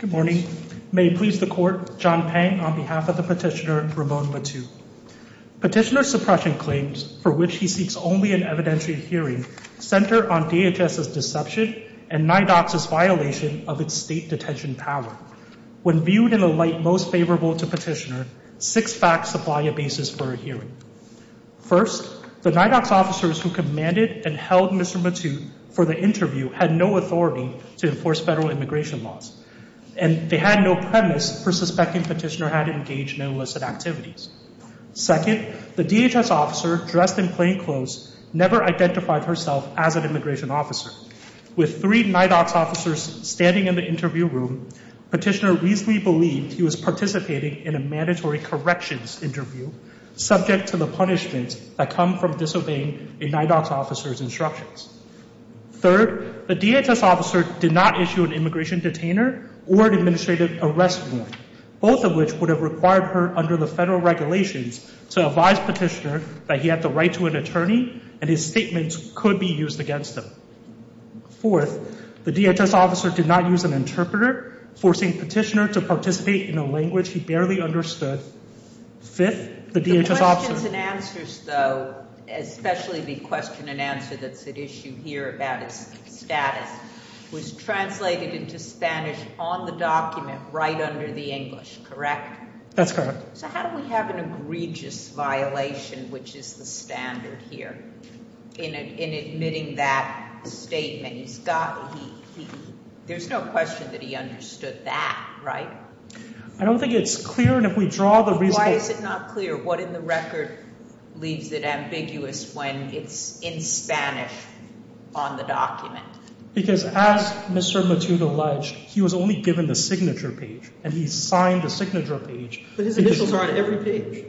Good morning. May it please the Court, John Pang on behalf of the Petitioner Ramon Matute. Petitioner's suppression claims, for which he seeks only an evidentiary hearing, center on DHS's deception and NIDOC's violation of its state detention power. When viewed in a light most favorable to Petitioner, six facts supply a basis for a hearing. First, the NIDOC's officers who commanded and held Mr. Matute for the interview had no authority to enforce federal immigration laws, and they had no premise for suspecting Petitioner had engaged in illicit activities. Second, the DHS officer, dressed in plain clothes, never identified herself as an immigration officer. With three NIDOC's officers standing in the interview room, Petitioner reasonably believed he was participating in a mandatory corrections interview, subject to the punishments that come from disobeying a NIDOC's officer's did not issue an immigration detainer or an administrative arrest warrant, both of which would have required her, under the federal regulations, to advise Petitioner that he had the right to an attorney, and his statements could be used against him. Fourth, the DHS officer did not use an interpreter, forcing Petitioner to participate in a language he barely understood. Fifth, the DHS officer The questions and answers, though, especially the question and answer that's at issue here about his status, was translated into Spanish on the document right under the English, correct? That's correct. So how do we have an egregious violation, which is the standard here, in admitting that statement? He's got, he, he, there's no question that he understood that, right? I don't think it's clear, and if we don't, it's in Spanish on the document. Because as Mr. Matute alleged, he was only given the signature page, and he signed the signature page. But his initials are on every page.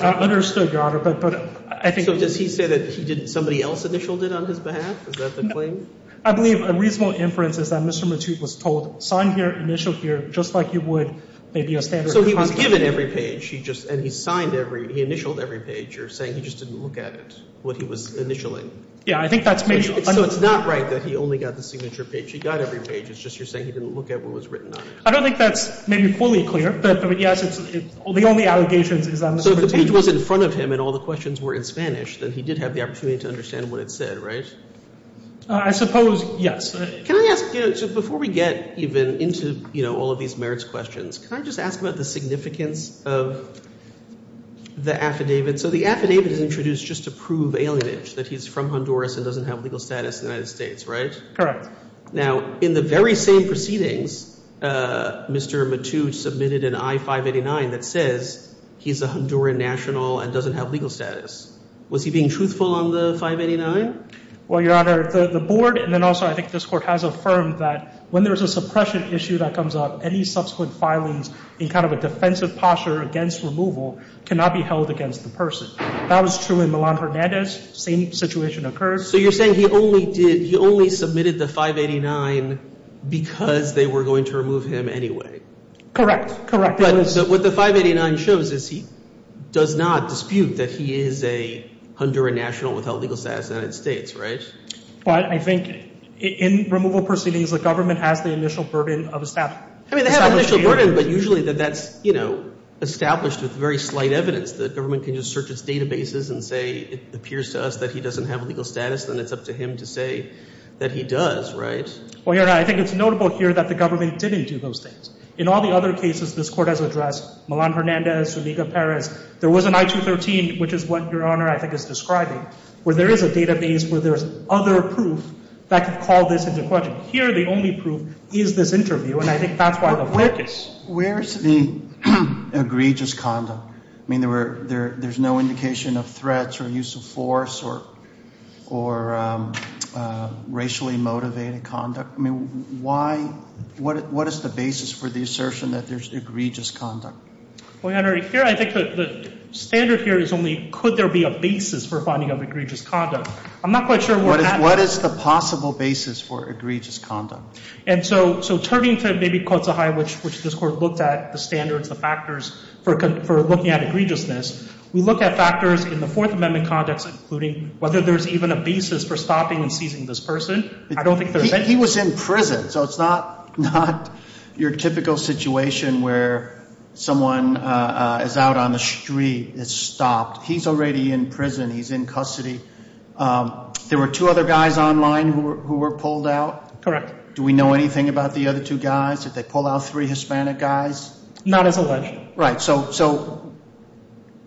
I understood, Your Honor, but, but I think. So does he say that he did, somebody else initialed it on his behalf? Is that the claim? No. I believe a reasonable inference is that Mr. Matute was told, sign here, initial here, just like you would maybe a standard So he was given every page. He just, and he signed every, he initialed every page. You're saying he didn't look at what he was initialing? Yeah, I think that's maybe. So it's not right that he only got the signature page. He got every page. It's just you're saying he didn't look at what was written on it. I don't think that's maybe fully clear, but, but yes, it's, the only allegations is on the signature. So if the page was in front of him and all the questions were in Spanish, then he did have the opportunity to understand what it said, right? I suppose, yes. Can I ask, you know, so before we get even into, you know, all of these merits questions, can I just ask about the significance of the affidavit? And so the affidavit is introduced just to prove alienage, that he's from Honduras and doesn't have legal status in the United States, right? Correct. Now in the very same proceedings, Mr. Matute submitted an I-589 that says he's a Honduran national and doesn't have legal status. Was he being truthful on the 589? Well, Your Honor, the board, and then also I think this court has affirmed that when there's a suppression issue that comes up, any subsequent filings in kind of a defensive posture against removal cannot be held against the person. That was true in Milan-Hernandez. Same situation occurs. So you're saying he only did, he only submitted the 589 because they were going to remove him anyway? Correct. Correct. But what the 589 shows is he does not dispute that he is a Honduran national without legal status in the United States, right? But I think in removal proceedings, the government has the initial burden of establishing. I mean, they have an initial burden, but usually that's established with very slight evidence. The government can just search its databases and say it appears to us that he doesn't have legal status, then it's up to him to say that he does, right? Well, Your Honor, I think it's notable here that the government didn't do those things. In all the other cases this court has addressed, Milan-Hernandez, Zuniga-Perez, there was an I-213, which is what Your Honor, I think, is describing, where there is a database where there's other proof that could call this into question. Here, the only proof is this interview, and I think that's why the focus. Where's the egregious conduct? I mean, there's no indication of threats or use of force or racially motivated conduct. I mean, what is the basis for the assertion that there's egregious conduct? Well, Your Honor, here I think the standard here is only could there be a basis for finding of egregious conduct. I'm not quite sure where that... What is the possible basis for egregious conduct? And so turning to maybe Quotzahayi, which this Court looked at, the standards, the factors for looking at egregiousness, we look at factors in the Fourth Amendment context, including whether there's even a basis for stopping and seizing this person. I don't think there's any... He was in prison, so it's not your typical situation where someone is out on bail. There were two other guys online who were pulled out. Correct. Do we know anything about the other two guys? Did they pull out three Hispanic guys? Not as a ledger. Right. So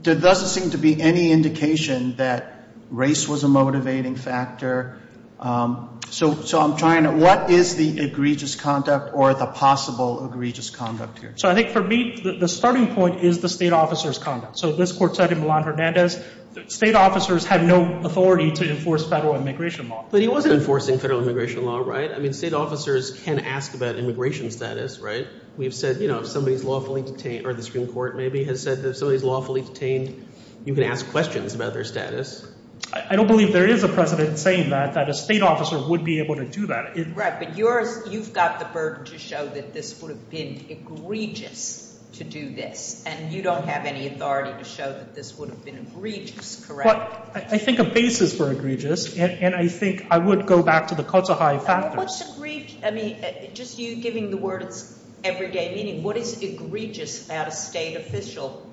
there doesn't seem to be any indication that race was a motivating factor. So I'm trying to... What is the egregious conduct or the possible egregious conduct here? So I think for me, the starting point is the state officer's conduct. So this Court said in Milan-Hernandez, state officers have no authority to enforce federal immigration law. But he wasn't enforcing federal immigration law, right? I mean, state officers can ask about immigration status, right? We've said if somebody's lawfully detained, or the Supreme Court maybe has said that if somebody's lawfully detained, you can ask questions about their status. I don't believe there is a precedent saying that, that a state officer would be able to do that. Right, but you've got the burden to show that this would have been egregious to do this, and you don't have any authority to show that this would have been egregious, correct? Well, I think a basis for egregious, and I think I would go back to the Kotzeheim factor. What's egregious? I mean, just you giving the word it's everyday meaning, what is egregious about a state official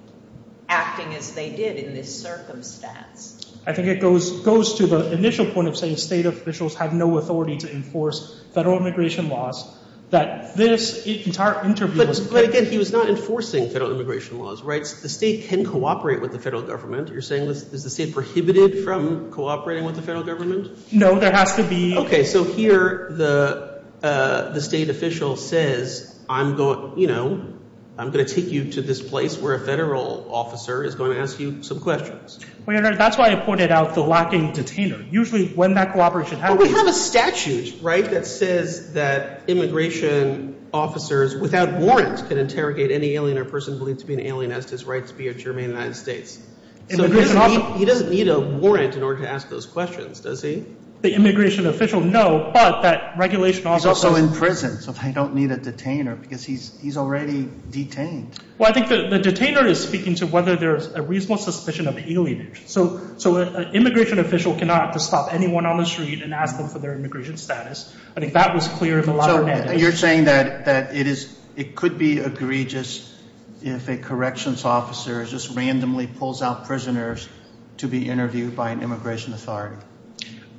acting as they did in this circumstance? I think it goes to the initial point of saying state officials have no authority to enforce federal immigration laws. But again, he was not enforcing federal immigration laws, right? The state can cooperate with the federal government. You're saying, is the state prohibited from cooperating with the federal government? No, there has to be. Okay, so here the state official says, I'm going to take you to this place where a federal officer is going to ask you some questions. That's why I pointed out the lacking detainer. Usually when that cooperation happens. But we have a statute, right, that says that immigration officers without warrants can interrogate any alien or person believed to be an alien as to his right to be a German in the United States. He doesn't need a warrant in order to ask those questions, does he? The immigration official, no, but that regulation also... He's also in prison, so they don't need a detainer because he's already detained. Well, I think that the detainer is speaking to whether there's a reasonable suspicion of alienation. So an immigration official cannot just stop anyone on the street and ask them for their immigration status. I think that was clear in the law. So you're saying that it could be egregious if a corrections officer just randomly pulls out prisoners to be interviewed by an immigration authority.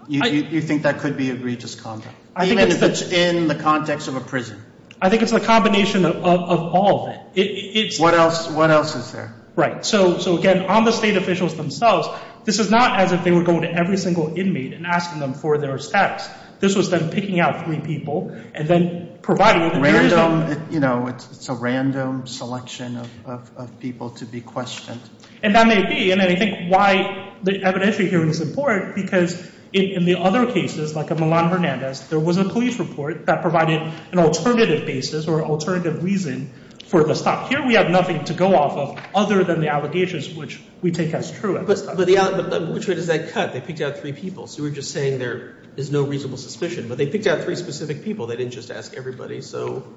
You think that could be egregious conduct, even if it's in the context of a prison? I think it's a combination of all of it. What else is there? Right, so again, on the state asking them for their status. This was them picking out three people and then providing them with... It's a random selection of people to be questioned. And that may be, and I think why the evidentiary hearing is important because in the other cases, like in Milan-Hernandez, there was a police report that provided an alternative basis or alternative reason for the stop. Here we have nothing to go off of other than the allegations which we take as true. But which way does that cut? They picked out three people. So we're just saying there is no reasonable suspicion. But they picked out three specific people. They didn't just ask everybody. So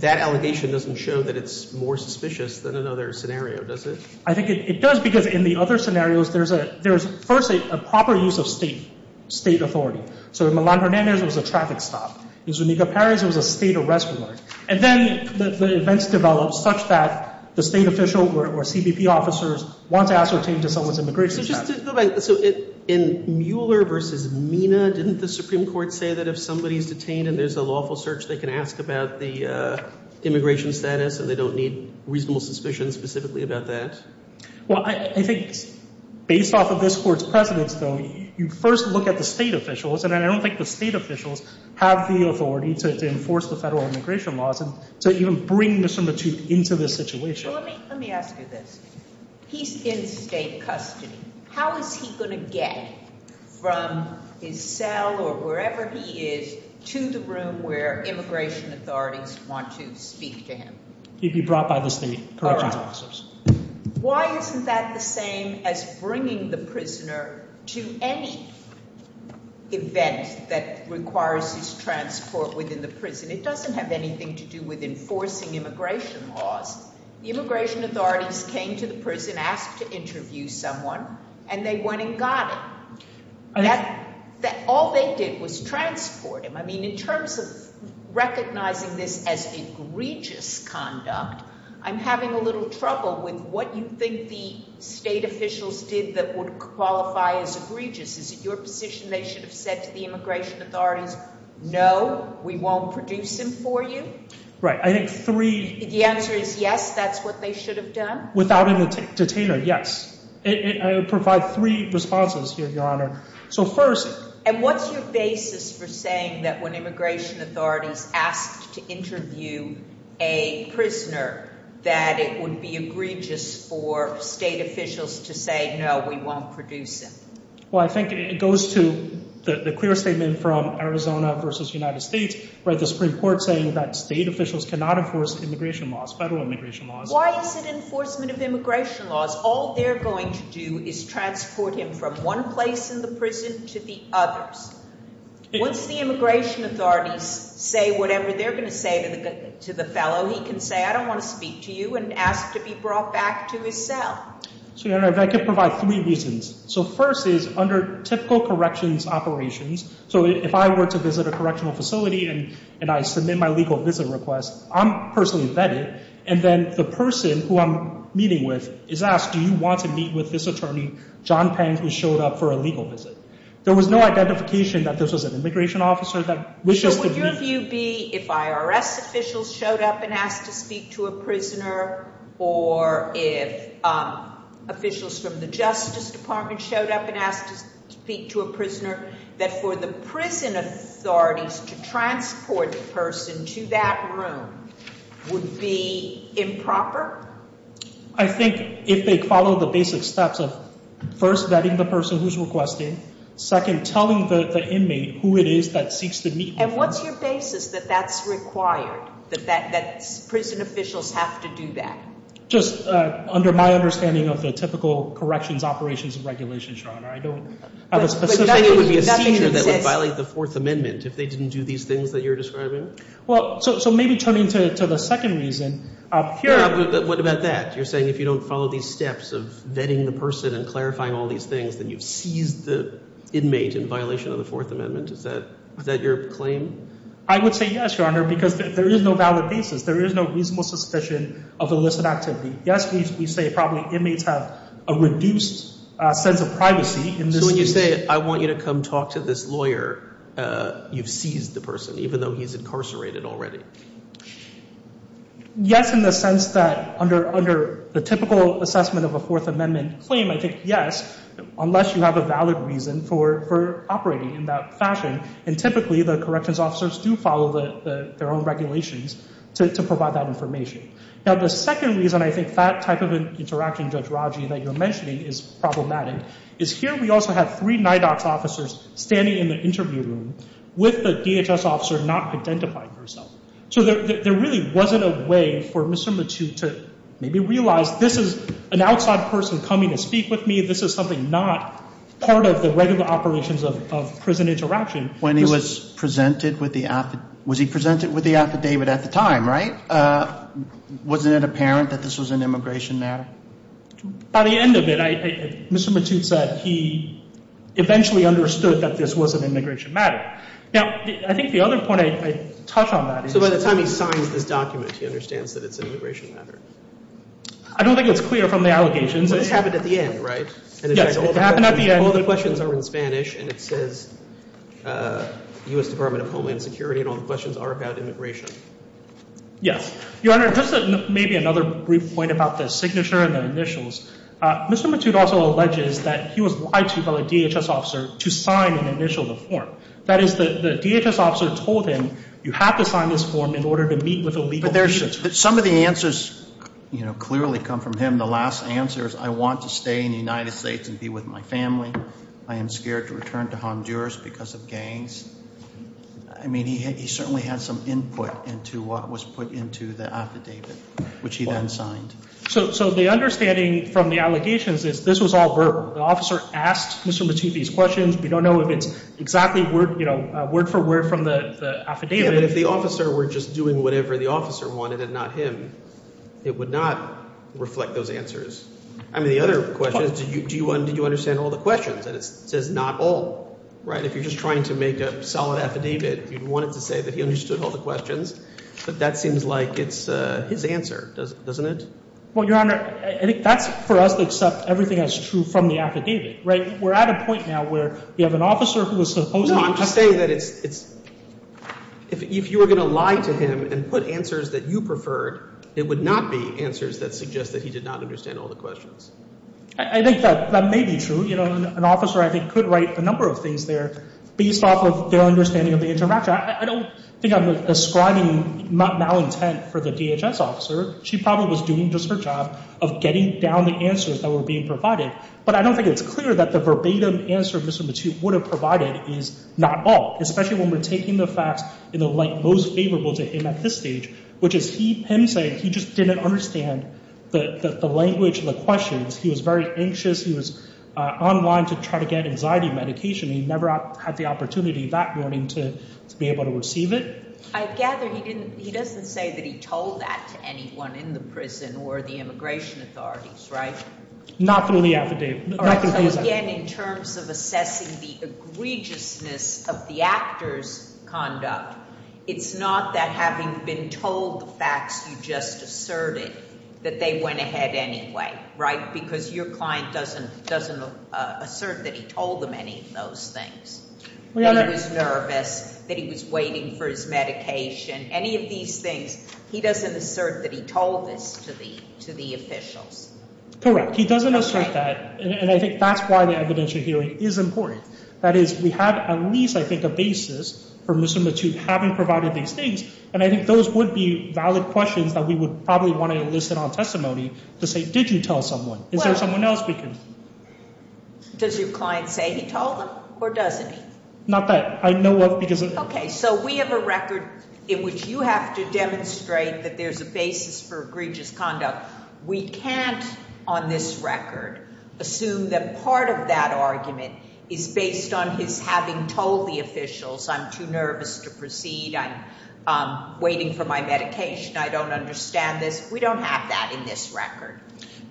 that allegation doesn't show that it's more suspicious than another scenario, does it? I think it does because in the other scenarios, there's first a proper use of state authority. So in Milan-Hernandez, it was a traffic stop. In Zuniga-Perez, it was a state arrest warrant. And then the events developed such that the state official or the CBP officers want to ascertain to someone's immigration status. So in Mueller versus Mina, didn't the Supreme Court say that if somebody's detained and there's a lawful search, they can ask about the immigration status and they don't need reasonable suspicion specifically about that? Well, I think based off of this court's precedence, though, you first look at the state officials. And I don't think the state officials have the authority to enforce the federal immigration laws and to even bring Mr. Mathute into this situation. Let me ask you this. He's in state custody. How is he going to get from his cell or wherever he is to the room where immigration authorities want to speak to him? He'd be brought by the state corrections officers. Why isn't that the same as bringing the prisoner to any event that requires his transport within the prison? It doesn't have anything to do with enforcing immigration laws. The immigration authorities came to the prison, asked to interview someone, and they went and got him. All they did was transport him. I mean, in terms of recognizing this as egregious conduct, I'm having a little trouble with what you think the state officials did that would qualify as egregious. Is it your position they should have said to the immigration authorities, no, we won't produce him for you? Right. I think three... The answer is yes, that's what they should have done? Without even to tailor, yes. I would provide three responses here, Your Honor. So first... And what's your basis for saying that when immigration authorities asked to interview a prisoner that it would be egregious for state officials to say, no, we won't produce him? Well, I think it goes to the clear statement from Arizona versus United States where the Supreme Court saying that state officials cannot enforce immigration laws, federal immigration laws. Why is it enforcement of immigration laws? All they're going to do is transport him from one place in the prison to the others. Once the immigration authorities say whatever they're going to say to the fellow, he can say, I don't want to speak to you and ask to be brought back to his cell. So, Your Honor, if I could provide three reasons. So first is under typical corrections operations. So if I were to visit a correctional facility and I submit my legal visit request, I'm personally vetted. And then the person who I'm meeting with is asked, do you want to meet with this attorney, John Pang, who showed up for a legal visit? There was no identification that this was an immigration officer that wishes to meet... So would your view be if IRS officials showed up and asked to speak to a prisoner or if officials from the Justice Department showed up and asked to speak to a prisoner, that for the prison authorities to transport the person to that room would be improper? I think if they follow the basic steps of first vetting the person who's requesting, second, telling the inmate who it is that seeks to meet... What's your basis that that's required, that prison officials have to do that? Just under my understanding of the typical corrections operations and regulations, Your Honor, I don't have a specific... But nothing that says... It would be a seizure that would violate the Fourth Amendment if they didn't do these things that you're describing? Well, so maybe turning to the second reason, here, what about that? You're saying if you don't follow these steps of vetting the person and clarifying all these things, then you've I would say yes, Your Honor, because there is no valid basis. There is no reasonable suspicion of illicit activity. Yes, we say probably inmates have a reduced sense of privacy in this... So when you say, I want you to come talk to this lawyer, you've seized the person, even though he's incarcerated already. Yes, in the sense that under the typical assessment of a Fourth Amendment claim, I think yes, unless you have a valid reason for operating in that fashion. And typically, the corrections officers do follow their own regulations to provide that information. Now, the second reason I think that type of an interaction, Judge Raji, that you're mentioning is problematic, is here we also have three NIDOX officers standing in the interview room with the DHS officer not identifying herself. So there really wasn't a way for Mr. Mathieu to maybe realize this is an outside person coming to speak with me. This is something not part of the regular operations of prison interaction. When he was presented with the... Was he presented with the affidavit at the time, right? Wasn't it apparent that this was an immigration matter? By the end of it, Mr. Mathieu said he eventually understood that this was an immigration matter. Now, I think the other point I'd touch on that is... So by the time he signs this document, he understands that it's an immigration matter? I don't think it's clear from the allegations. This happened at the end, right? Yes, it happened at the end. All the questions are in Spanish, and it says U.S. Department of Homeland Security, and all the questions are about immigration. Yes. Your Honor, just maybe another brief point about the signature and the initials. Mr. Mathieu also alleges that he was lied to by the DHS officer to sign and initial the form. That is, the DHS officer told him, you have to sign this form in order to meet with a legal... Some of the answers clearly come from him. The last answer is, I want to stay in the United States and be with my family. I am scared to return to Honduras because of gangs. I mean, he certainly had some input into what was put into the affidavit, which he then signed. So the understanding from the allegations is this was all verbal. The officer asked Mr. Mathieu these questions. We don't know if it's exactly word for word from the affidavit. If the officer were just doing whatever the officer wanted and not him, it would not reflect those answers. I mean, the other question is, do you understand all the questions? And it says not all, right? If you're just trying to make a solid affidavit, you'd want it to say that he understood all the questions. But that seems like it's his answer, doesn't it? Well, Your Honor, that's for us to accept everything that's true from the affidavit, right? We're at a point now where we have an officer who is supposed to... I'm just saying that if you were going to lie to him and put answers that you preferred, it would not be answers that suggest that he did not understand all the questions. I think that may be true. You know, an officer, I think, could write a number of things there based off of their understanding of the interaction. I don't think I'm ascribing malintent for the DHS officer. She probably was doing just her job of getting down the answers that were being provided. But I don't think it's clear that the verbatim answer Mr. Mathieu would have provided is not all, especially when we're taking the facts in the light most favorable to him at this stage, which is him saying he just didn't understand the language of the questions. He was very anxious. He was online to try to get anxiety medication. He never had the opportunity that morning to be able to receive it. I gather he doesn't say that he told that to anyone in the prison or the immigration authorities, right? Not through the affidavit. Again, in terms of assessing the egregiousness of the actor's conduct, it's not that having been told the facts, you just asserted that they went ahead anyway, right? Because your client doesn't assert that he told them any of those things. He was nervous, that he was waiting for his medication, any of these things. He doesn't assert that he told this to the officials. Correct. He doesn't assert that. And I think that's why the evidential hearing is important. That is, we have at least, I think, a basis for Mr. Mathieu having provided these things. And I think those would be valid questions that we would probably want to enlist it on testimony to say, did you tell someone? Is there someone else we could? Does your client say he told them or doesn't he? Not that I know of because- Okay. So we have a record in which you have to demonstrate that there's a basis for egregious conduct. We can't, on this record, assume that part of that argument is based on his having told the officials, I'm too nervous to proceed. I'm waiting for my medication. I don't understand this. We don't have that in this record.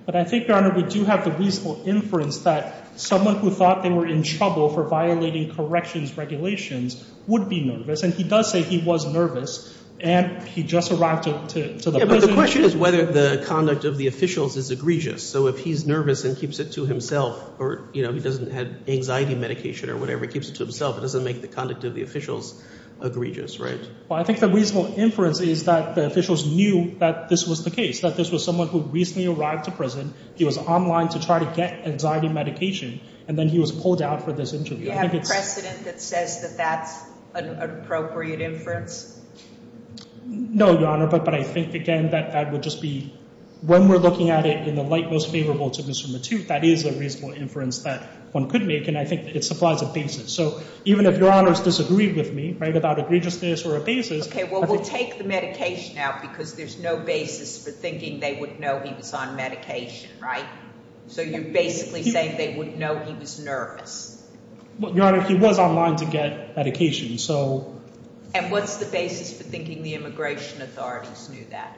But I think, Your Honor, we do have the reasonable inference that someone who thought they were in trouble for violating corrections regulations would be nervous. And he does say he was nervous. And he just arrived to the prison. The question is whether the conduct of the officials is egregious. So if he's nervous and keeps it to himself or he doesn't have anxiety medication or whatever, keeps it to himself, it doesn't make the conduct of the officials egregious, right? Well, I think the reasonable inference is that the officials knew that this was the case, that this was someone who recently arrived to prison. He was online to try to get anxiety medication. And then he was pulled out for this interview. Do you have a precedent that says that that's an appropriate inference? No, Your Honor. But I think, again, that that would just be when we're looking at it in the light most favorable to Mr. Matute, that is a reasonable inference that one could make. And I think it supplies a basis. So even if Your Honors disagree with me about egregiousness or a basis. OK, well, we'll take the medication out because there's no basis for thinking they would know he was on medication, right? So you're basically saying they wouldn't know he was nervous. Well, Your Honor, he was online to get medication. So and what's the basis for thinking the immigration authorities knew that?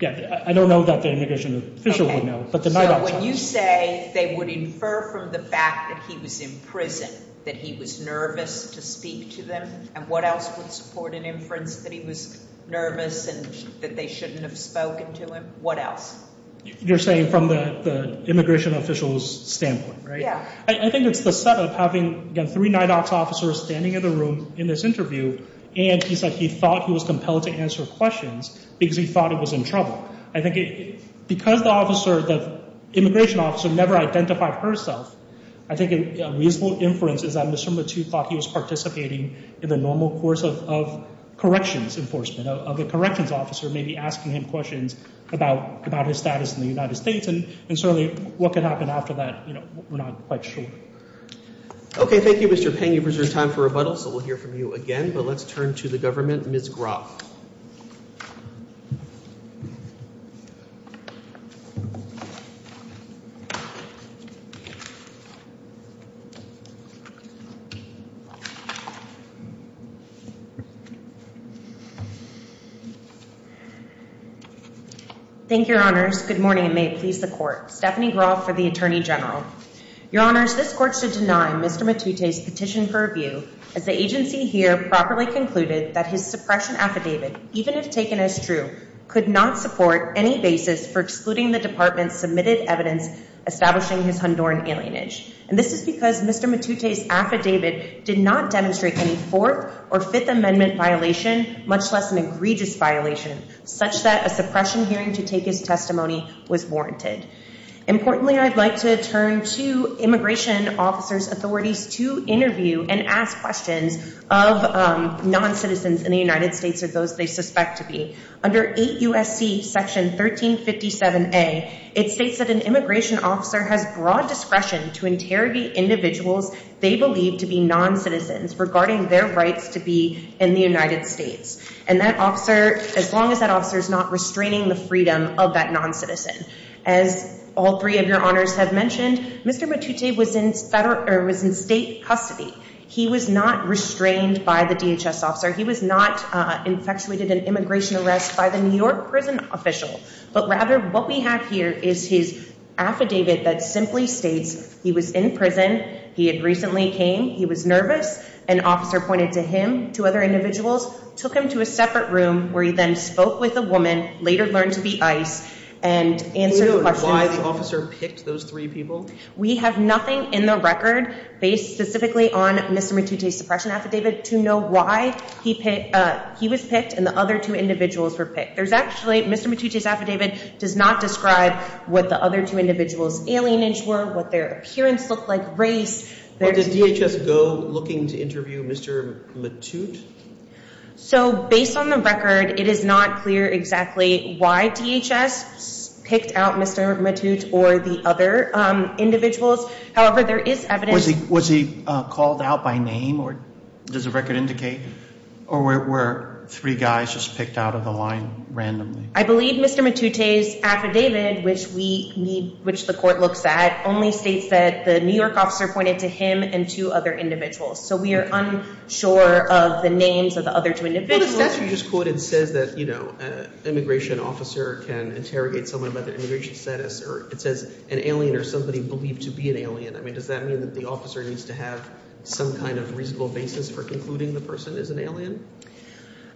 Yeah, I don't know that the immigration official would know. But when you say they would infer from the fact that he was in prison, that he was nervous to speak to them. And what else would support an inference that he was nervous and that they shouldn't have spoken to him? What else? You're saying from the immigration officials standpoint, right? Yeah. I think it's the setup having three NIDOC officers standing in the room in this interview. And he said he thought he was compelled to answer questions because he thought it was in trouble. I think because the immigration officer never identified herself, I think a reasonable inference is that Mr. Matute thought he was participating in the normal course of corrections enforcement, of the corrections officer maybe asking him questions about his status in the United States. And certainly, what could happen after that, we're not quite sure. OK. Thank you, Mr. Peng. You've reserved time for rebuttal. So we'll hear from you again. But let's turn to the government. Ms. Groff. Thank you, Your Honors. Good morning. Stephanie Groff for the Attorney General. Your Honors, this court should deny Mr. Matute's petition for review as the agency here properly concluded that his suppression affidavit, even if taken as true, could not support any basis for excluding the department's submitted evidence establishing his Honduran alienage. And this is because Mr. Matute's affidavit did not demonstrate any Fourth or Fifth Amendment violation, much less an egregious violation, such that a suppression hearing to take his warranted. Importantly, I'd like to turn to immigration officers' authorities to interview and ask questions of non-citizens in the United States or those they suspect to be. Under 8 U.S.C. Section 1357A, it states that an immigration officer has broad discretion to interrogate individuals they believe to be non-citizens regarding their rights to be in the United States, as long as that officer is not restraining the freedom of that non-citizen. As all three of your honors have mentioned, Mr. Matute was in state custody. He was not restrained by the DHS officer. He was not infatuated in immigration arrest by the New York prison official. But rather, what we have here is his affidavit that simply states he was in prison. He had recently came. He was nervous. An officer pointed to him, to other individuals, took him to a separate room where he then spoke with a woman, later learned to be ICE, and answered questions. Do you know why the officer picked those three people? We have nothing in the record based specifically on Mr. Matute's suppression affidavit to know why he was picked and the other two individuals were picked. There's actually, Mr. Matute's affidavit does not describe what the other two individuals' alienage were, what their appearance looked like, race. Or did DHS go looking to interview Mr. Matute? So based on the record, it is not clear exactly why DHS picked out Mr. Matute or the other individuals. However, there is evidence. Was he called out by name? Or does the record indicate? Or were three guys just picked out of the line randomly? I believe Mr. Matute's affidavit, which the court looks at, only states that the New York officer pointed to him and two other individuals. So we are unsure of the names of the other two individuals. But the statute you just quoted says that, you know, an immigration officer can interrogate someone by their immigration status. Or it says an alien or somebody believed to be an alien. I mean, does that mean that the officer needs to have some kind of reasonable basis for concluding the person is an alien?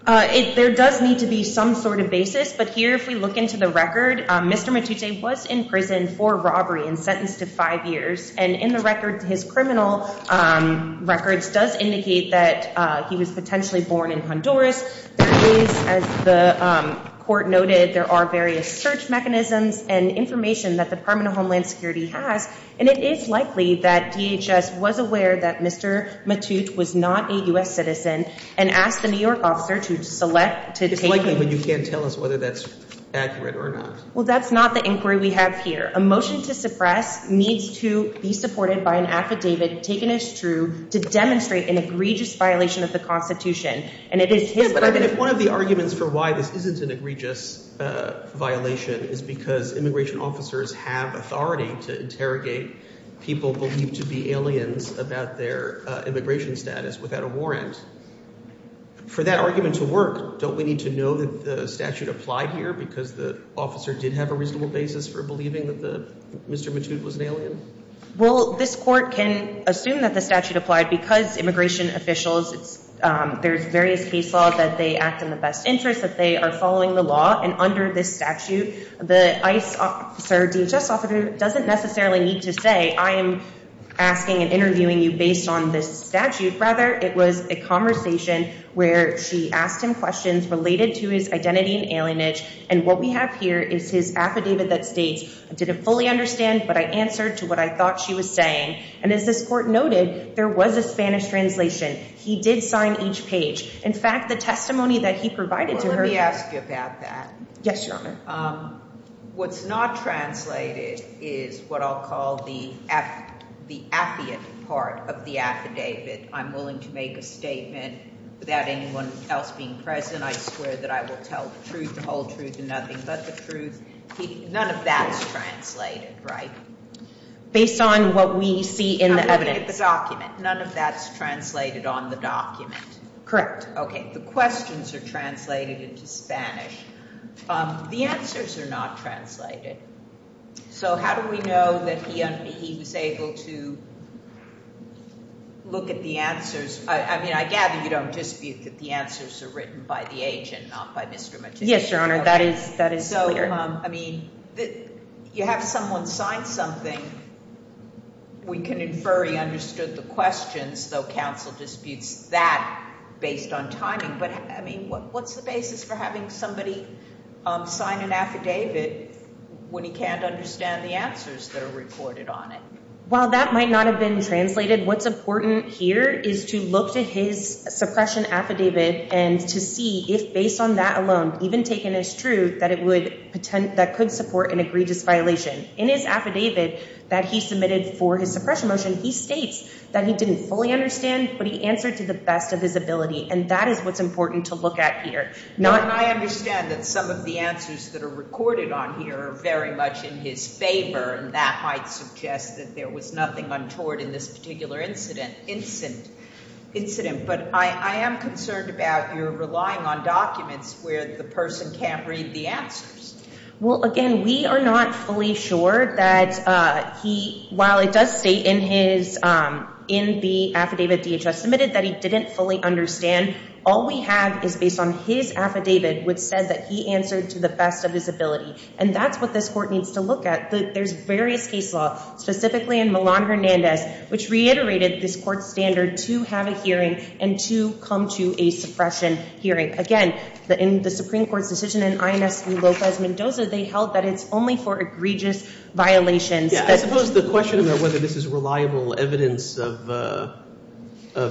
There does need to be some sort of basis. But here, if we look into the record, Mr. Matute was in prison for robbery and sentenced to five years. And in the records, his criminal records does indicate that he was potentially born in Honduras. There is, as the court noted, there are various search mechanisms and information that the Department of Homeland Security has. And it is likely that DHS was aware that Mr. Matute was not a U.S. citizen and asked the New York officer to select. It's likely, but you can't tell us whether that's accurate or not. Well, that's not the inquiry we have here. A motion to suppress needs to be supported by an affidavit taken as true to demonstrate an egregious violation of the Constitution. And it is his— Yeah, but I mean, if one of the arguments for why this isn't an egregious violation is because immigration officers have authority to interrogate people believed to be aliens about their immigration status without a warrant, for that argument to work, don't we need to know that the statute applied here because the officer did have a reasonable basis for Mr. Matute was an alien? Well, this court can assume that the statute applied because immigration officials, there's various case law that they act in the best interest that they are following the law. And under this statute, the ICE officer, DHS officer, doesn't necessarily need to say, I am asking and interviewing you based on this statute. Rather, it was a conversation where she asked him questions related to his identity and alienage. And what we have here is his affidavit that states, I didn't fully understand, but I answered to what I thought she was saying. And as this court noted, there was a Spanish translation. He did sign each page. In fact, the testimony that he provided to her— Well, let me ask you about that. Yes, Your Honor. What's not translated is what I'll call the affidavit part of the affidavit. I'm willing to make a statement without anyone else being present. I swear that I will tell the truth, the whole truth, and nothing but the truth. None of that's translated, right? Based on what we see in the evidence. The document. None of that's translated on the document. Correct. Okay. The questions are translated into Spanish. The answers are not translated. So how do we know that he was able to look at the answers? I mean, I gather you don't dispute that the answers are written by the agent, not by Mr. Matisse. Yes, Your Honor. That is clear. So, I mean, you have someone sign something. We can infer he understood the questions, though counsel disputes that based on timing. But, I mean, what's the basis for having somebody sign an affidavit when he can't understand the answers that are recorded on it? Well, that might not have been translated. What's important here is to look to his suppression affidavit and to see if based on that alone, even taken as true, that could support an egregious violation. In his affidavit that he submitted for his suppression motion, he states that he didn't fully understand, but he answered to the best of his ability. And that is what's important to look at here. I understand that some of the answers that are recorded on here are very much in his favor, and that might suggest that there was nothing untoward in this particular incident. But I am concerned about your relying on documents where the person can't read the answers. Well, again, we are not fully sure that he, while it does state in the affidavit DHS submitted that he didn't fully understand, all we have is based on his affidavit, which said that he answered to the best of his ability. And that's what this court needs to look at. There's various case law, specifically in Milan-Hernandez, which reiterated this court's standard to have a hearing and to come to a suppression hearing. Again, in the Supreme Court's decision in INS Lopez-Mendoza, they held that it's only for egregious violations. Yeah, I suppose the question about whether this is reliable evidence of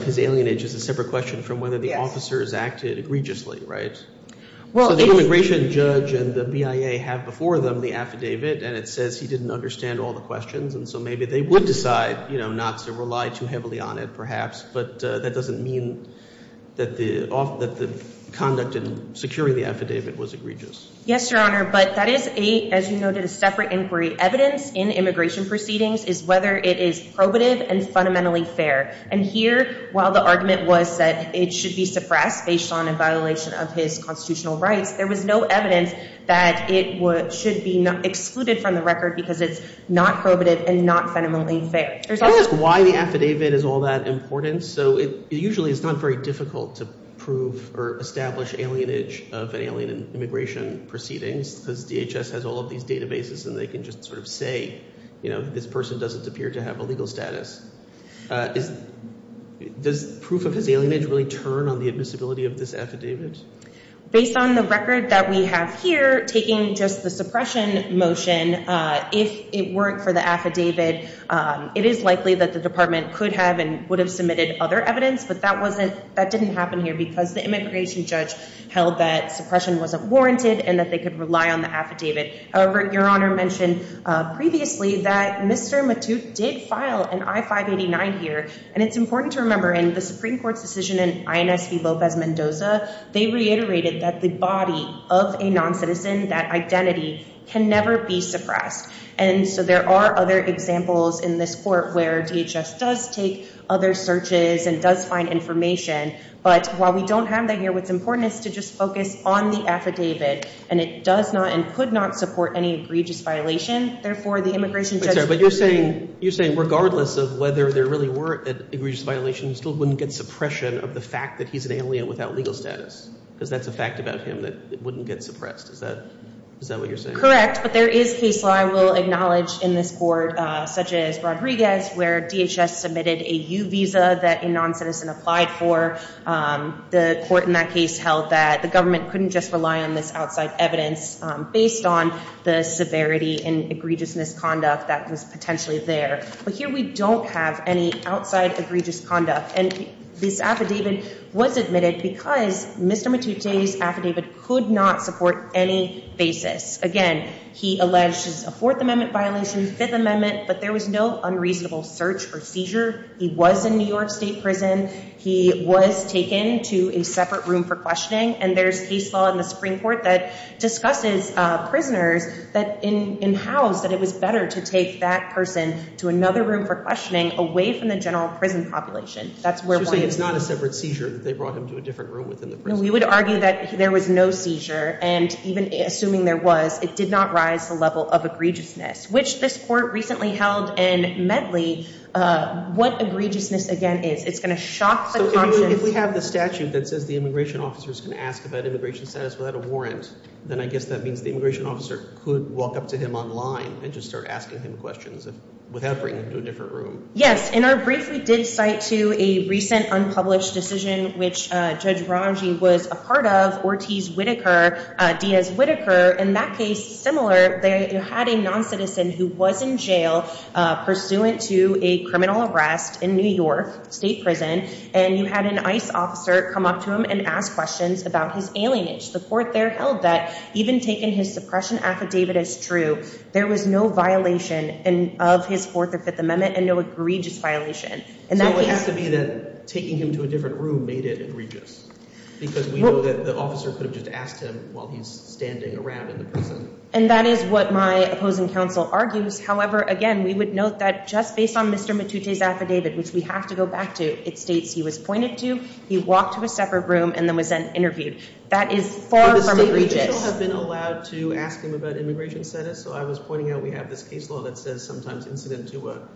his alienage is a separate question from whether the officers acted egregiously, right? Well, the immigration judge and the BIA have before them the affidavit, and it says he didn't understand all the questions. And so maybe they would decide not to rely too heavily on it, perhaps. But that doesn't mean that the conduct in securing the affidavit was egregious. Yes, Your Honor. But that is, as you noted, a separate inquiry. Evidence in immigration proceedings is whether it is probative and fundamentally fair. And here, while the argument was that it should be suppressed based on a violation of his constitutional rights, there was no evidence that it should be excluded from the record because it's not probative and not fundamentally fair. Can I ask why the affidavit is all that important? So usually, it's not very difficult to prove or establish alienage of an alien in immigration proceedings because DHS has all of these databases, and they can just sort of say, you know, this person doesn't appear to have a legal status. Does proof of his alienage really turn on the admissibility of this affidavit? Based on the record that we have here, taking just the suppression motion, if it weren't for the affidavit, it is likely that the department could have and would have submitted other evidence. But that didn't happen here because the immigration judge held that suppression wasn't warranted and that they could rely on the affidavit. However, Your Honor mentioned previously that Mr. Matute did file an I-589 here. And it's important to remember, in the Supreme Court's decision in INS v. Lopez-Mendoza, they reiterated that the body of a non-citizen, that identity, can never be suppressed. And so there are other examples in this court where DHS does take other searches and does find information. But while we don't have that here, what's important is to just focus on the affidavit. And it does not and could not support any egregious violation. Therefore, the immigration judge— But you're saying regardless of whether there really were egregious violations, still wouldn't get suppression of the fact that he's an alien without legal status? Because that's a fact about him that it wouldn't get suppressed. Is that what you're saying? Correct. But there is case law, I will acknowledge, in this court, such as Rodriguez, where DHS submitted a U visa that a non-citizen applied for. The court in that case held that the government couldn't just rely on this outside evidence based on the severity and egregious misconduct that was potentially there. But here, we don't have any outside egregious conduct. And this affidavit was admitted because Mr. Matute's affidavit could not support any basis. Again, he alleged a Fourth Amendment violation, Fifth Amendment, but there was no unreasonable search or seizure. He was in New York State prison. He was taken to a separate room for questioning. And there's case law in the Supreme Court that discusses prisoners, that in-house, that it was better to take that person to another room for questioning away from the general prison population. That's where one is. So you're saying it's not a separate seizure, that they brought him to a different room within the prison? We would argue that there was no seizure. And even assuming there was, it did not rise to the level of egregiousness, which this court recently held in Medley. What egregiousness, again, is? It's going to shock the conscience. If we have the statute that says the immigration officer is going to ask about immigration status without a warrant, then I guess that means the immigration officer could walk up to him online and just start asking him questions without bringing him to a different room. Yes. In our brief, we did cite to a recent unpublished decision, which Judge Romji was a part of, Ortiz-Whitaker, Diaz-Whitaker. In that case, similar, they had a non-citizen who was in jail pursuant to a criminal arrest in New York State prison. And you had an ICE officer come up to him and ask questions about his alienage. The court there held that, even taking his suppression affidavit as true, there was no violation of his Fourth or Fifth Amendment and no egregious violation. And that has to be that taking him to a different room made it egregious. Because we know that the officer could have just asked him while he's standing around in the prison. And that is what my opposing counsel argues. However, again, we would note that just based on Mr. Matute's affidavit, which we have to go back to, it states he was pointed to, he walked to a separate room, and then was then interviewed. That is far from egregious. Would the state judicial have been allowed to ask him about immigration status? So I was pointing out we have this case law that says sometimes incident to a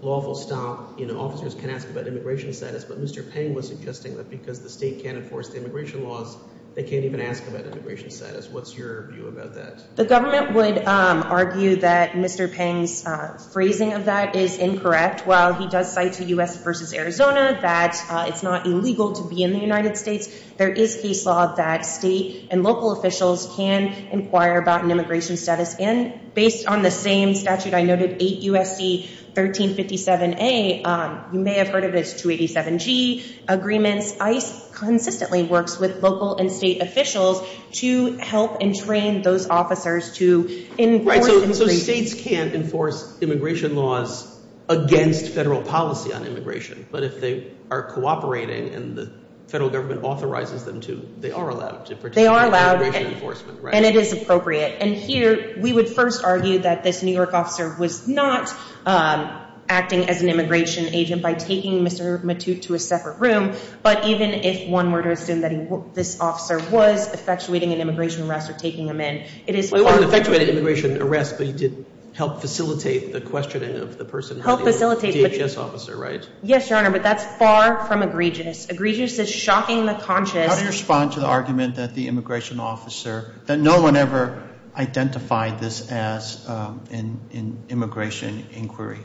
lawful stop, you know, officers can ask about immigration status. But Mr. Peng was suggesting that because the state can't enforce the immigration laws, they can't even ask about immigration status. What's your view about that? The government would argue that Mr. Peng's phrasing of that is incorrect. While he does cite the U.S. versus Arizona, that it's not illegal to be in the United States, there is case law that state and local officials can inquire about an immigration status. And based on the same statute I noted, 8 U.S.C. 1357A, you may have heard of it, it's 287G agreements. ICE consistently works with local and state officials to help and train those officers to enforce immigration. So states can't enforce immigration laws against federal policy on immigration. But if they are cooperating and the federal government authorizes them to, they are allowed to participate in immigration enforcement, right? And it is appropriate. And here, we would first argue that this New York officer was not acting as an immigration agent by taking Mr. Matute to a separate room. But even if one were to assume that this officer was effectuating an immigration arrest or taking him in, it is... Well, he wasn't effectuating an immigration arrest, but he did help facilitate the questioning of the person, the DHS officer, right? Yes, Your Honor, but that's far from egregious. Egregious is shocking the conscience... How do you respond to the argument that the immigration officer, that no one ever identified this as an immigration inquiry?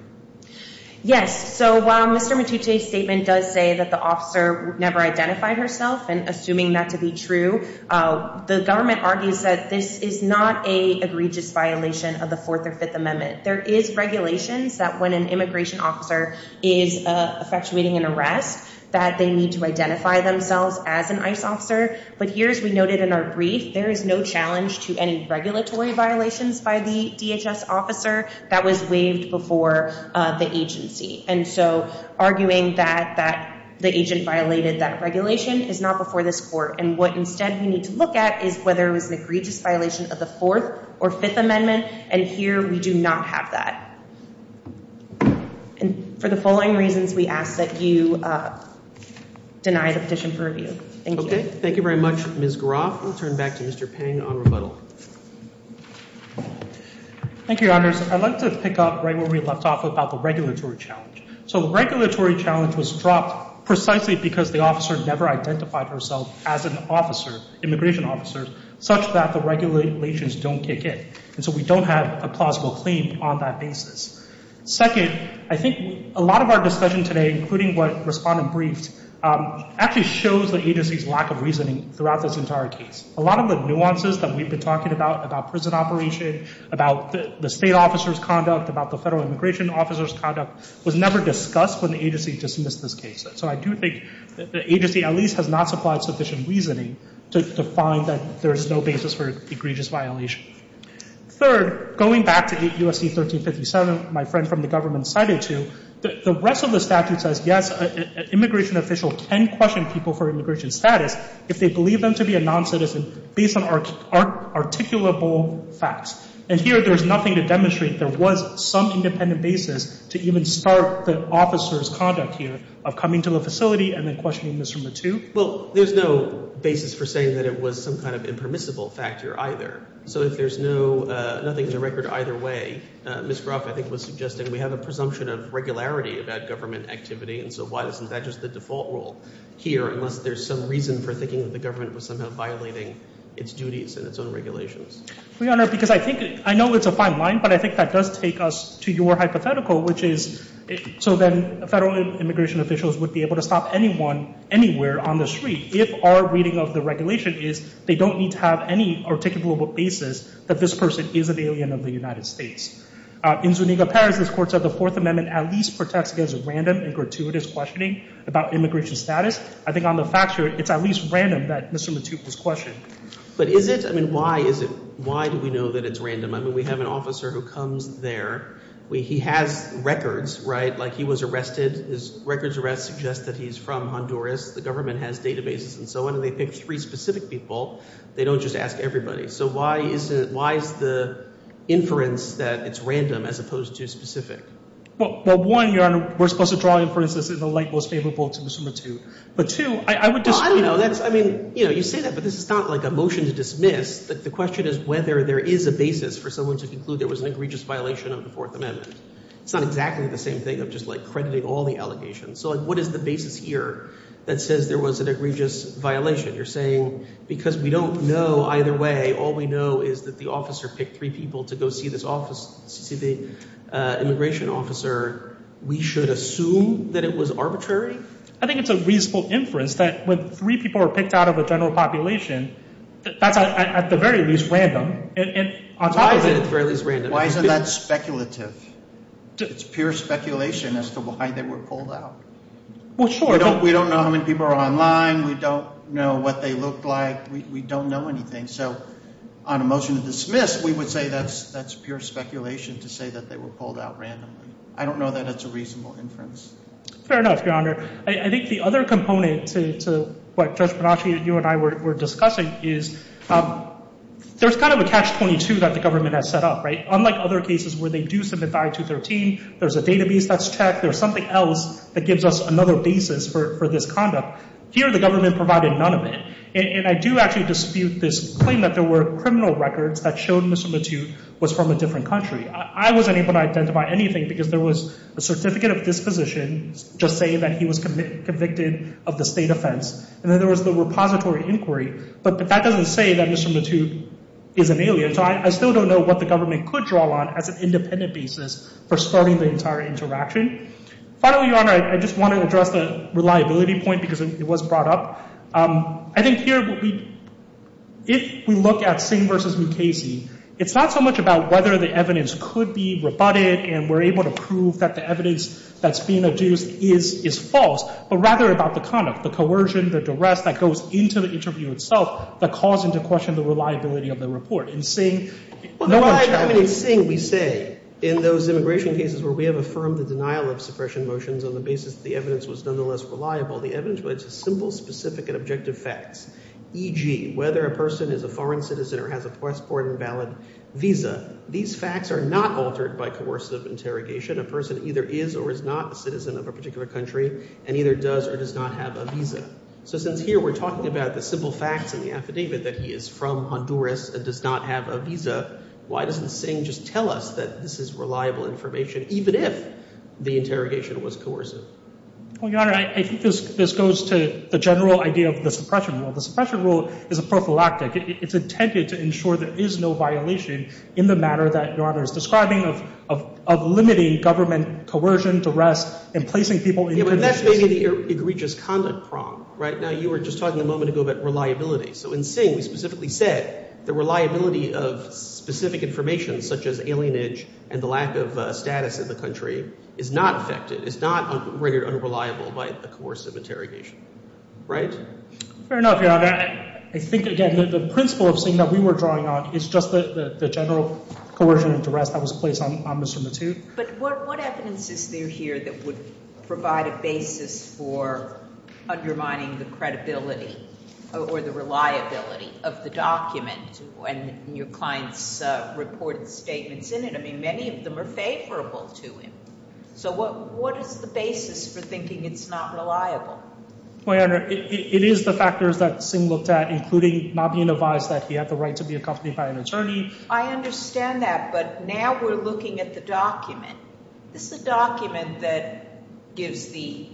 Yes. So while Mr. Matute's statement does say that the officer never identified herself, and assuming that to be true, the government argues that this is not a egregious violation of the Fourth or Fifth Amendment. There is regulations that when an immigration officer is effectuating an arrest, that they need to identify themselves as an ICE officer. But here, as we noted in our brief, there is no challenge to any regulatory violations by the DHS officer that was waived before the agency. And so arguing that the agent violated that regulation is not before this court. And what, instead, we need to look at is whether it was an egregious violation of the Fourth or Fifth Amendment. And here, we do not have that. And for the following reasons, we ask that you deny the petition for review. Thank you. Thank you very much, Ms. Groff. We'll turn back to Mr. Peng on rebuttal. Thank you, Your Honors. I'd like to pick up right where we left off about the regulatory challenge. So the regulatory challenge was dropped precisely because the officer never identified herself as an immigration officer, such that the regulations don't kick in. And so we don't have a plausible claim on that basis. Second, I think a lot of our discussion today, including what respondent briefed, actually shows the agency's lack of reasoning throughout this entire case. A lot of the nuances that we've been talking about, about prison operation, about the state officer's conduct, about the federal immigration officer's conduct, was never discussed when the agency dismissed this case. So I do think the agency at least has not supplied sufficient reasoning to find that there is no basis for egregious violation. Third, going back to U.S.C. 1357, my friend from the government cited to, the rest of the statute says, yes, an immigration official can question people for immigration status if they believe them to be a non-citizen based on articulable facts. And here, there's nothing to demonstrate there was some independent basis to even start the officer's conduct here of coming to the facility and then questioning Mr. Mathieu. Well, there's no basis for saying that it was some kind of impermissible factor either. So if there's nothing in the record either way, Ms. Groff, I think, was suggesting we have a presumption of regularity about government activity. And so why isn't that just the default rule here, unless there's some reason for thinking that the government was somehow violating its duties and its own regulations? Your Honor, because I think, I know it's a fine line, but I think that does take us to your hypothetical, which is, so then federal immigration officials would be able to stop anyone, anywhere on the street if our reading of the regulation is they don't need to have any articulable basis that this person is an alien of the United States. In Zuniga-Perez, this court said the Fourth Amendment at least protects against random and gratuitous questioning about immigration status. I think on the facture, it's at least random that Mr. Mathieu was questioned. But is it? I mean, why is it? Why do we know that it's random? I mean, we have an officer who comes there. He has records, right? Like he was arrested. His records arrest suggests that he's from Honduras. The government has databases and so on. They pick three specific people. They don't just ask everybody. So why is it, why is the inference that it's random as opposed to specific? Well, one, Your Honor, we're supposed to draw inferences in the light most favorable to Mr. Mathieu. But two, I would just, you know, that's, I mean, you know, you say that, but this is not like a motion to dismiss. The question is whether there is a basis for someone to conclude there was an egregious violation of the Fourth Amendment. It's not exactly the same thing of just like crediting all the allegations. So what is the basis here that says there was an egregious violation? You're saying because we don't know either way, all we know is that the officer picked three people to go see this immigration officer. We should assume that it was arbitrary? I think it's a reasonable inference that when three people were picked out of a general population, that's at the very least random. Why isn't that speculative? It's pure speculation as to why they were pulled out. Well, sure. We don't know how many people are online. We don't know what they look like. We don't know anything. So on a motion to dismiss, we would say that's pure speculation to say that they were pulled out randomly. I don't know that that's a reasonable inference. Fair enough, Your Honor. I think the other component to what Judge Panacea and you and I were discussing is there's kind of a catch-22 that the government has set up, right? Unlike other cases where they do submit 5213, there's a database that's checked. There's something else that gives us another basis for this conduct. Here, the government provided none of it. And I do actually dispute this claim that there were criminal records that showed Mr. Matute was from a different country. I wasn't able to identify anything because there was a certificate of disposition just saying that he was convicted of the state offense. And then there was the repository inquiry. But that doesn't say that Mr. Matute is an alien. So I still don't know what the government could draw on as an independent basis for starting the entire interaction. Finally, Your Honor, I just want to address the reliability point because it was brought up. I think here, if we look at Singh v. Mukasey, it's not so much about whether the evidence could be rebutted and we're able to prove that the evidence that's being adduced is false, but rather about the conduct, the coercion, the duress, that goes into the interview itself, that calls into question the reliability of the report. In Singh, no one checked. I mean, in Singh, we say, in those immigration cases where we have affirmed the denial of suppression motions on the basis that the evidence was nonetheless reliable, the evidence was simple, specific, and objective facts, e.g. whether a person is a foreign citizen or has a passport and valid visa. These facts are not altered by coercive interrogation. A person either is or is not a citizen of a particular country and either does or does not have a visa. So since here we're talking about the simple facts in the affidavit that he is from Honduras and does not have a visa, why doesn't Singh just tell us that this is reliable information, even if the interrogation was coercive? Well, Your Honor, I think this goes to the general idea of the suppression rule. The suppression rule is a prophylactic. It's intended to ensure there is no violation in the manner that Your Honor is describing of limiting government coercion, duress, and placing people in conditions— Yeah, but that's maybe the egregious conduct prong, right? Now, you were just talking a moment ago about reliability. So in Singh, we specifically said the reliability of specific information, such as alienage and the lack of status in the country, is not affected, is not rated unreliable by a coercive interrogation, right? Fair enough, Your Honor. I think, again, the principle of Singh that we were drawing on is just the general coercion and duress that was placed on Mr. Matute. But what evidence is there here that would provide a basis for undermining the credibility or the reliability of the document and your client's reported statements in it? I mean, many of them are favorable to him. So what is the basis for thinking it's not reliable? Well, Your Honor, it is the factors that Singh looked at, including not being advised that he had the right to be accompanied by an attorney. I understand that, but now we're looking at the document. This is a document that gives the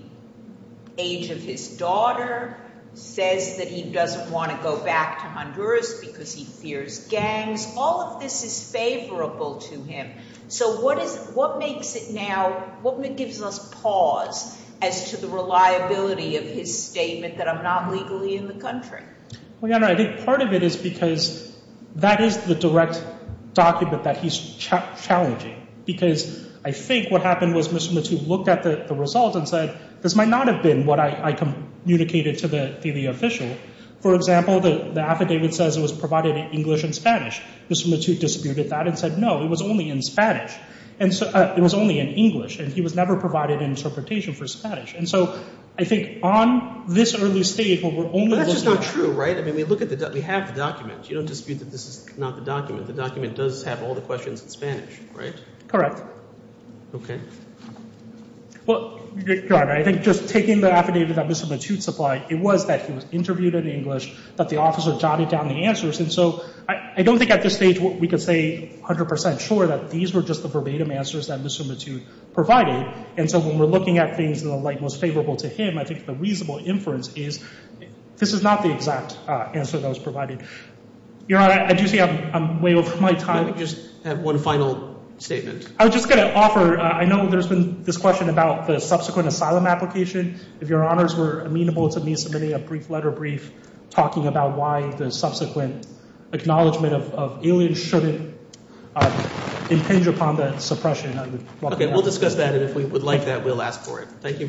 age of his daughter, says that he doesn't want to go back to Honduras because he fears gangs. All of this is favorable to him. So what makes it now, what gives us pause as to the reliability of his statement that I'm not legally in the country? Well, Your Honor, I think part of it is because that is the direct document that he's challenging. Because I think what happened was Mr. Matute looked at the result and said, this might not have been what I communicated to the official. For example, the affidavit says it was provided in English and Spanish. Mr. Matute disputed that and said, no, it was only in English, and he was never provided an interpretation for Spanish. And so I think on this early stage, what we're only looking at— But that's just not true, right? I mean, we have the document. You don't dispute that this is not the document. The document does have all the questions in Spanish, right? Correct. Okay. Well, Your Honor, I think just taking the affidavit that Mr. Matute supplied, it was that he was interviewed in English, that the officer jotted down the answers. And so I don't think at this stage we could say 100 percent sure that these were just the verbatim answers that Mr. Matute provided. And so when we're looking at things in the light most favorable to him, I think the reasonable inference is this is not the exact answer that was provided. Your Honor, I do see I'm way over my time. Let me just have one final statement. I was just going to offer— I know there's been this question about the subsequent asylum application. If Your Honors were amenable to me submitting a brief letter brief talking about why the subsequent acknowledgement of aliens shouldn't impinge upon the suppression, I would welcome that. Okay. We'll discuss that. And if we would like that, we'll ask for it. Thank you very much.